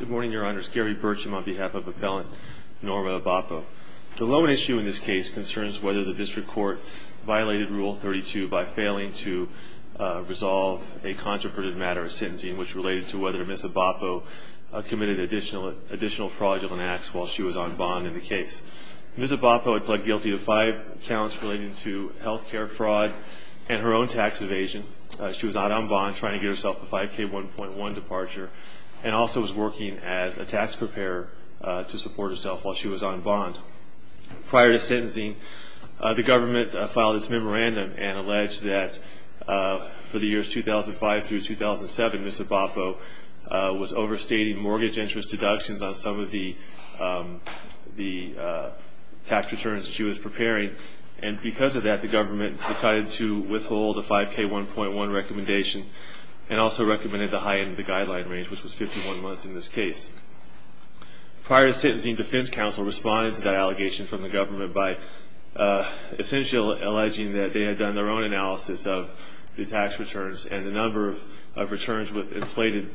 Good morning, Your Honors. Gary Burcham on behalf of Appellant Norma Abapo. The lone issue in this case concerns whether the District Court violated Rule 32 by failing to resolve a controverted matter of sentencing, which related to whether Ms. Abapo committed additional fraudulent acts while she was on bond in the case. Ms. Abapo had pled guilty to five counts relating to health care fraud and her own tax evasion. She was out on bond trying to get herself a 5K1.1 departure and also was working as a tax preparer to support herself while she was on bond. Prior to sentencing, the government filed its memorandum and alleged that for the years 2005 through 2007, Ms. Abapo was overstating mortgage interest deductions on some of the tax returns she was preparing. And because of that, the government decided to withhold the 5K1.1 recommendation and also recommended to heighten the guideline range, which was 51 months in this case. Prior to sentencing, defense counsel responded to that allegation from the government by essentially alleging that they had done their own analysis of the tax returns and the number of returns with inflated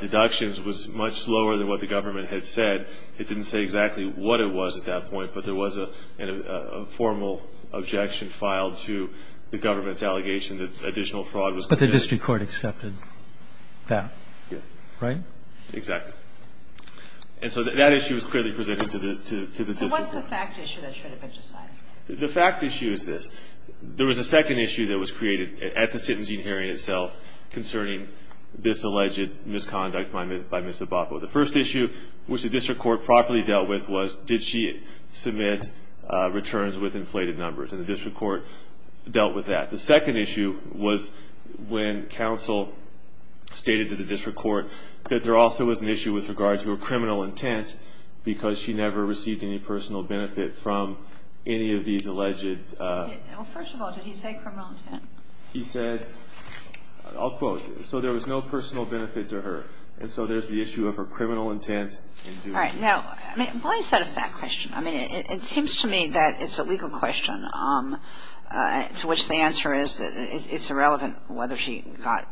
deductions was much slower than what the government had said. It didn't say exactly what it was at that point, but there was a formal objection filed to the government's allegation that additional fraud was committed. But the district court accepted that? Yes. Right? Exactly. And so that issue was clearly presented to the district court. What's the fact issue that should have been decided? The fact issue is this. There was a second issue that was created at the sentencing hearing itself concerning this alleged misconduct by Ms. Abapo. The first issue, which the district court properly dealt with, was did she submit returns with inflated numbers? And the district court dealt with that. The second issue was when counsel stated to the district court that there also was an issue with regards to her criminal intent because she never received any personal benefit from any of these alleged? Well, first of all, did he say criminal intent? He said, I'll quote, So there was no personal benefit to her. And so there's the issue of her criminal intent in doing this. All right. Now, why is that a fact question? I mean, it seems to me that it's a legal question to which the answer is it's irrelevant whether she got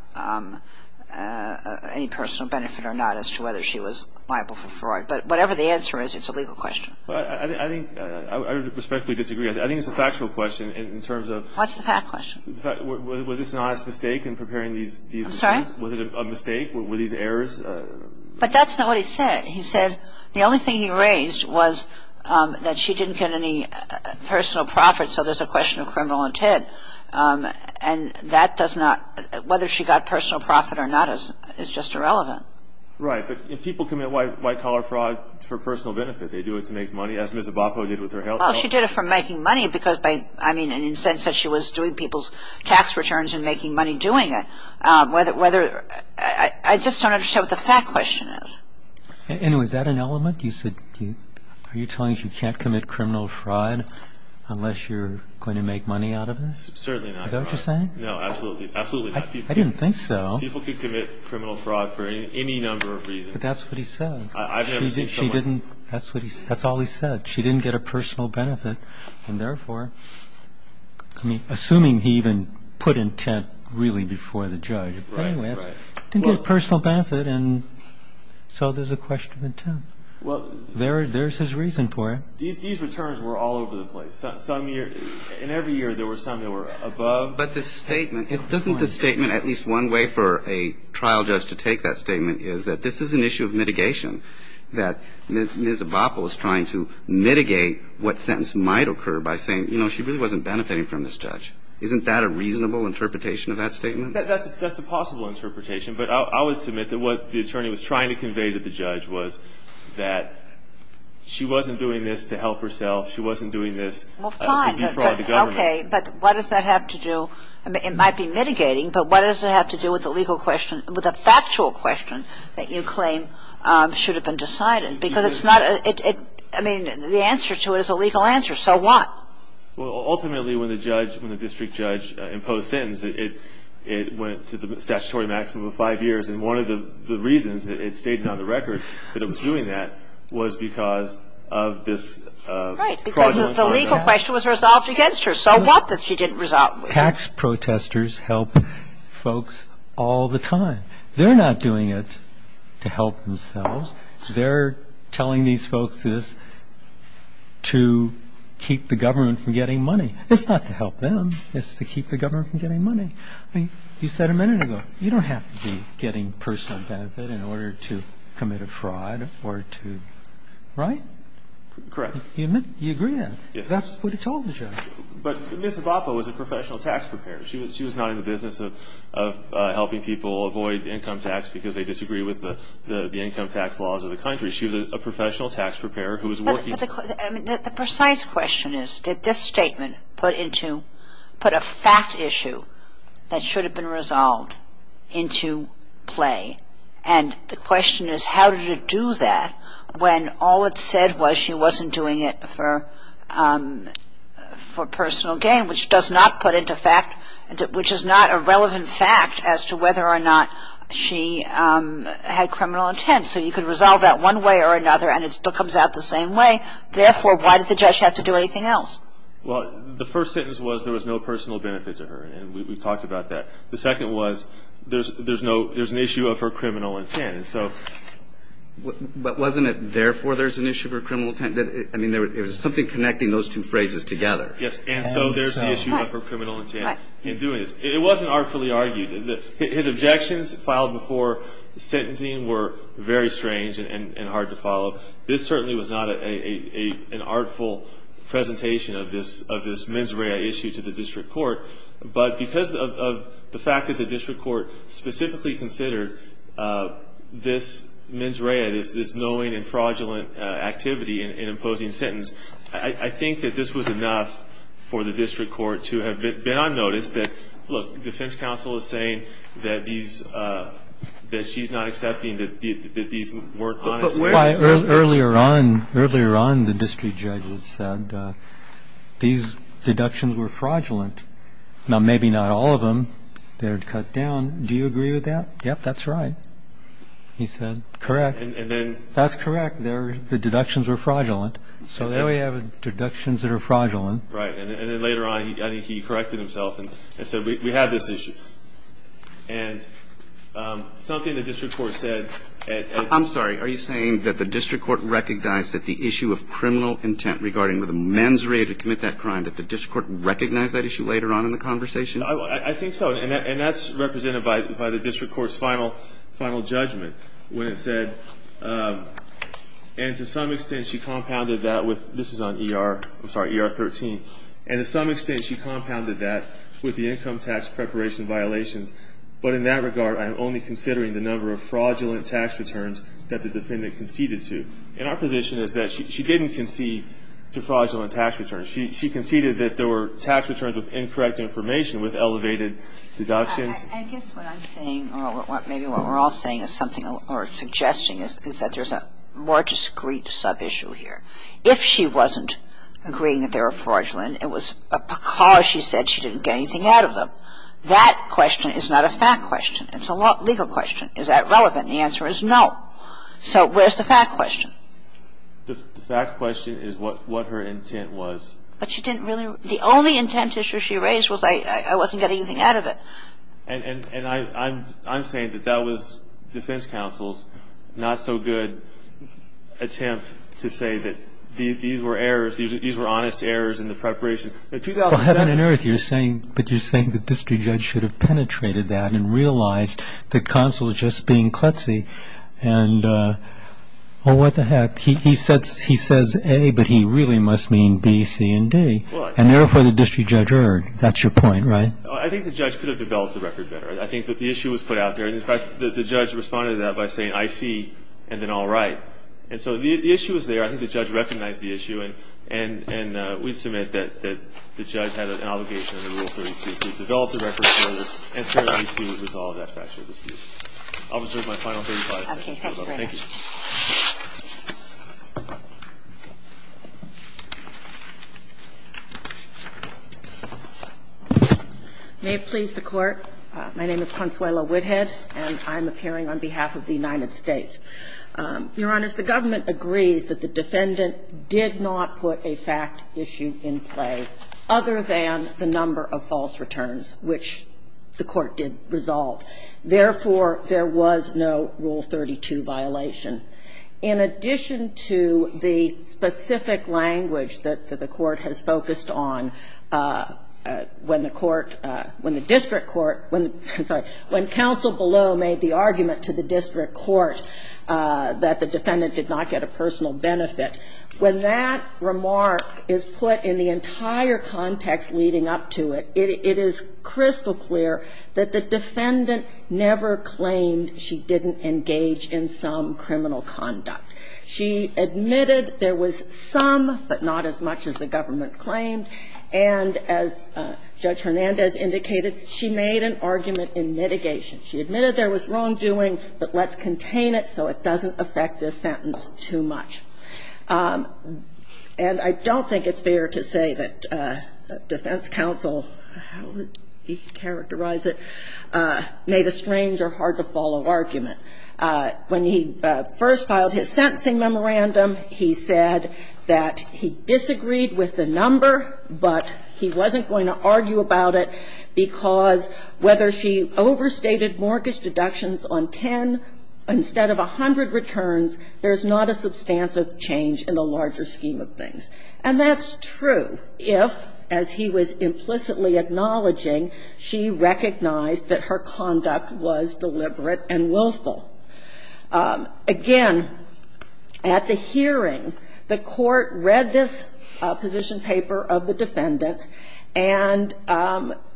any personal benefit or not as to whether she was liable for fraud. But whatever the answer is, it's a legal question. Well, I think, I respectfully disagree. I think it's a factual question in terms of What's the fact question? Was this an honest mistake in preparing these? I'm sorry? Was it a mistake? Were these errors? But that's not what he said. He said the only thing he raised was that she didn't get any personal profit, so there's a question of criminal intent. And that does not, whether she got personal profit or not is just irrelevant. Right. But people commit white-collar fraud for personal benefit. They do it to make money, as Ms. Abapo did with her health. Well, she did it for making money because, I mean, in the sense that she was doing people's tax returns and making money doing it. I just don't understand what the fact question is. Anyway, is that an element? Are you telling us you can't commit criminal fraud unless you're going to make money out of this? Certainly not. Is that what you're saying? No, absolutely not. I didn't think so. People can commit criminal fraud for any number of reasons. But that's what he said. I've never seen someone That's all he said. She didn't get a personal benefit, and therefore, I mean, assuming he even put intent really before the judge. Right, right. Didn't get a personal benefit, and so there's a question of intent. There's his reason for it. These returns were all over the place. In every year, there were some that were above. But the statement, doesn't the statement, at least one way for a trial judge to take that statement is that this is an issue of mitigation, that Ms. Abapol is trying to mitigate what sentence might occur by saying, you know, she really wasn't benefiting from this judge. Isn't that a reasonable interpretation of that statement? That's a possible interpretation. But I would submit that what the attorney was trying to convey to the judge was that she wasn't doing this to help herself. She wasn't doing this to defraud the government. Well, fine. Okay. But what does that have to do? It might be mitigating, but what does it have to do with the legal question with the factual question that you claim should have been decided? Because it's not a – I mean, the answer to it is a legal answer. So what? Well, ultimately, when the judge, when the district judge imposed a sentence, it went to the statutory maximum of five years. And one of the reasons it stayed on the record that it was doing that was because of this fraudulent – Right, because the legal question was resolved against her. So what that she didn't resolve it with? Tax protesters help folks all the time. They're not doing it to help themselves. They're telling these folks this to keep the government from getting money. It's not to help them. It's to keep the government from getting money. I mean, you said a minute ago, you don't have to be getting personal benefit in order to commit a fraud or to – right? Correct. You agree on that? Yes. Because that's what he told the judge. But Ms. Evapo was a professional tax preparer. She was not in the business of helping people avoid income tax because they disagree with the income tax laws of the country. She was a professional tax preparer who was working – But the precise question is, did this statement put into – put a fact issue that should have been resolved into play? And the question is, how did it do that when all it said was she wasn't doing it for personal gain, which does not put into fact – which is not a relevant fact as to whether or not she had criminal intent. So you could resolve that one way or another, and it still comes out the same way. Therefore, why did the judge have to do anything else? Well, the first sentence was there was no personal benefit to her, and we've talked about that. The second was there's no – there's an issue of her criminal intent. And so – But wasn't it therefore there's an issue of her criminal intent? I mean, it was something connecting those two phrases together. Yes. And so – And so there's the issue of her criminal intent in doing this. It wasn't artfully argued. His objections filed before the sentencing were very strange and hard to follow. This certainly was not an artful presentation of this mens rea issue to the district court. But because of the fact that the district court specifically considered this mens rea, this knowing and fraudulent activity in imposing sentence, I think that this was enough for the district court to have been on notice that, look, defense counsel is saying that these – that she's not accepting that these weren't honest – Earlier on, the district judge said these deductions were fraudulent. Now, maybe not all of them. They're cut down. Do you agree with that? Yes, that's right, he said. Correct. And then – That's correct. The deductions were fraudulent. So we have deductions that are fraudulent. Right. And then later on, I think he corrected himself and said, we have this issue. And something the district court said – I'm sorry, are you saying that the district court recognized that the issue of criminal intent regarding the mens rea to commit that crime, that the district court recognized that issue later on in the conversation? I think so. And that's represented by the district court's final judgment when it said, and to some extent she compounded that with – this is on ER – I'm sorry, ER 13. And to some extent she compounded that with the income tax preparation violations. But in that regard, I'm only considering the number of fraudulent tax returns that the defendant conceded to. And our position is that she didn't concede to fraudulent tax returns. She conceded that there were tax returns with incorrect information with elevated deductions. I guess what I'm saying, or maybe what we're all saying is something – or suggesting is that there's a more discreet sub-issue here. If she wasn't agreeing that they were fraudulent, it was because she said she didn't get anything out of them. That question is not a fact question. It's a legal question. Is that relevant? The answer is no. So where's the fact question? The fact question is what her intent was. But she didn't really – the only intent issue she raised was I wasn't getting anything out of it. And I'm saying that that was defense counsel's not-so-good attempt to say that these were errors, these were honest errors in the preparation. In 2007 – Well, heaven and earth, you're saying – but you're saying the district judge should have penetrated that and realized that counsel is just being klutzy. And, oh, what the heck. He says A, but he really must mean B, C, and D. And therefore the district judge erred. That's your point, right? I think the judge could have developed the record better. I think that the issue was put out there. And, in fact, the judge responded to that by saying, I see, and then all right. And so the issue was there. I think the judge recognized the issue. And we submit that the judge had an obligation under Rule 32 to develop the record further and to resolve that factual dispute. I'll reserve my final 35 seconds, Your Honor. Thank you. May it please the Court. My name is Consuelo Whithead, and I'm appearing on behalf of the United States. Your Honor, the government agrees that the defendant did not put a fact issue in play other than the number of false returns, which the Court did resolve. Therefore, there was no Rule 32 violation. In addition to the specific language that the Court has focused on, when the Court when the district court, when counsel below made the argument to the district court that the defendant did not get a personal benefit, when that remark is put in the entire context leading up to it, it is crystal clear that the defendant never claimed she didn't engage in some criminal conduct. She admitted there was some, but not as much as the government claimed. And as Judge Hernandez indicated, she made an argument in mitigation. She admitted there was wrongdoing, but lets contain it so it doesn't affect this sentence too much. And I don't think it's fair to say that defense counsel, how would he characterize it, made a strange or hard-to-follow argument. When he first filed his sentencing memorandum, he said that he disagreed with the number but he wasn't going to argue about it because whether she overstated mortgage deductions on 10 instead of 100 returns, there's not a substantive change in the larger scheme of things. And that's true if, as he was implicitly acknowledging, she recognized that her conduct was deliberate and willful. Again, at the hearing, the court read this position paper of the defendant and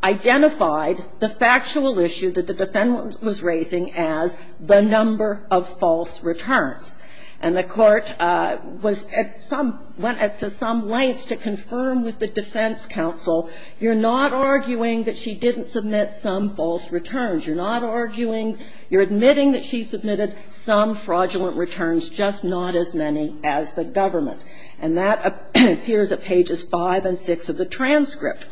identified the factual issue that the defendant was raising as the number of false returns. And the court was at some, went to some lengths to confirm with the defense counsel, you're not arguing that she didn't submit some false returns. You're not arguing, you're admitting that she submitted some fraudulent returns, just not as many as the government. And that appears at pages 5 and 6 of the transcript.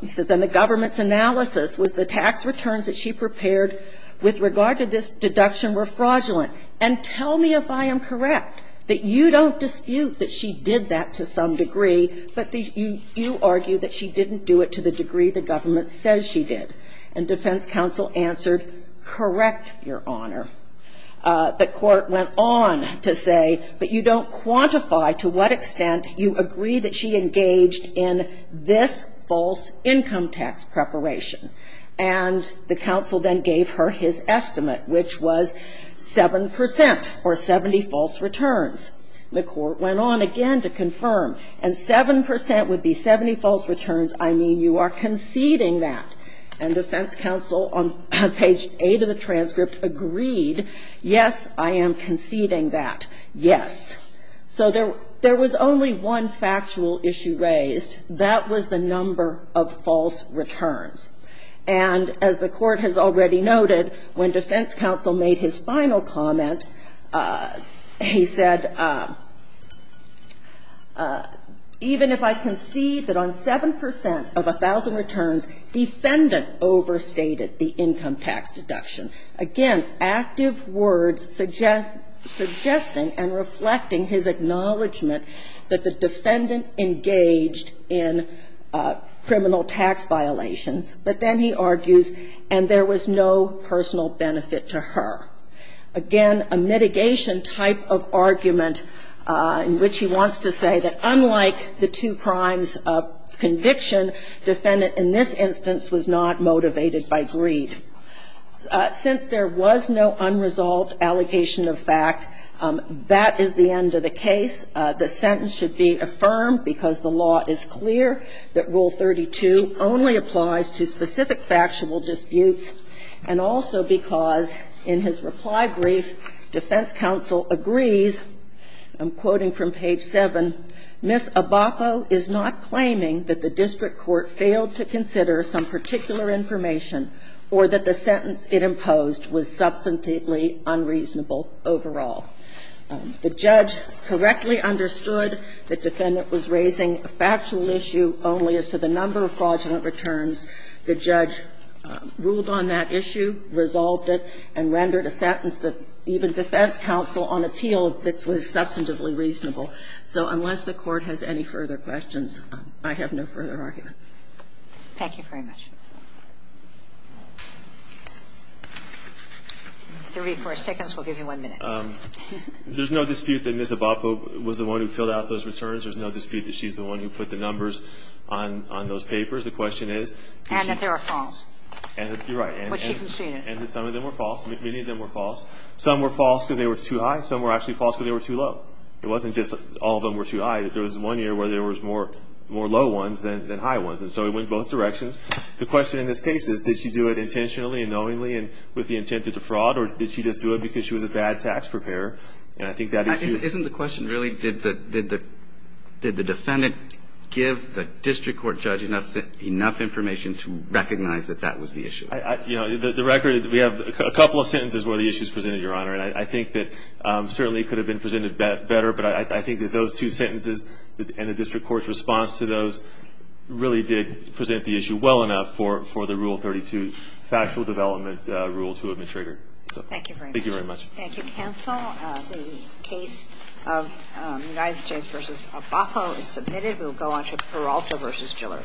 He says, and the government's analysis was the tax returns that she prepared with regard to this deduction were fraudulent. And tell me if I am correct that you don't dispute that she did that to some degree, but you argue that she didn't do it to the degree the government says she did. And defense counsel answered, correct, Your Honor. The court went on to say, but you don't quantify to what extent you agree that she engaged in this false income tax preparation. And the counsel then gave her his estimate, which was 7 percent or 70 false returns. The court went on again to confirm. And 7 percent would be 70 false returns. I mean, you are conceding that. And defense counsel on page 8 of the transcript agreed, yes, I am conceding that, yes. So there was only one factual issue raised. That was the number of false returns. And as the Court has already noted, when defense counsel made his final comment, he said, even if I concede that on 7 percent of 1,000 returns, defense counsel was wrong, the defendant overstated the income tax deduction. Again, active words suggesting and reflecting his acknowledgment that the defendant engaged in criminal tax violations. But then he argues, and there was no personal benefit to her. Again, a mitigation type of argument in which he wants to say that unlike the two defendants, the defendant was not motivated by greed. Since there was no unresolved allocation of fact, that is the end of the case. The sentence should be affirmed because the law is clear that Rule 32 only applies to specific factual disputes, and also because in his reply brief, defense counsel agrees, I'm quoting from page 7, Ms. Abapo is not claiming that the district court failed to consider some particular information or that the sentence it imposed was substantively unreasonable overall. The judge correctly understood the defendant was raising a factual issue only as to the number of fraudulent returns. The judge ruled on that issue, resolved it, and rendered a sentence that even defense counsel unappealed that was substantively reasonable. So unless the Court has any further questions, I have no further argument. Thank you very much. Mr. Reid, for a second, we'll give you one minute. There's no dispute that Ms. Abapo was the one who filled out those returns. There's no dispute that she's the one who put the numbers on those papers. The question is? And that they were false. And you're right. Which she conceded. And that some of them were false. Many of them were false. Some were false because they were too high. Some were actually false because they were too low. It wasn't just all of them were too high. There was one year where there was more low ones than high ones. And so it went both directions. The question in this case is, did she do it intentionally and knowingly and with the intent to defraud? Or did she just do it because she was a bad tax preparer? And I think that issue ---- Isn't the question really did the defendant give the district court judge enough information to recognize that that was the issue? The record is that we have a couple of sentences where the issue is presented, Your Honor. And I think that certainly it could have been presented better. But I think that those two sentences and the district court's response to those really did present the issue well enough for the Rule 32, Factual Development Rule to have been triggered. Thank you very much. Thank you very much. Thank you, counsel. The case of United States v. Abapo is submitted. We'll go on to Peralta v. Gillard.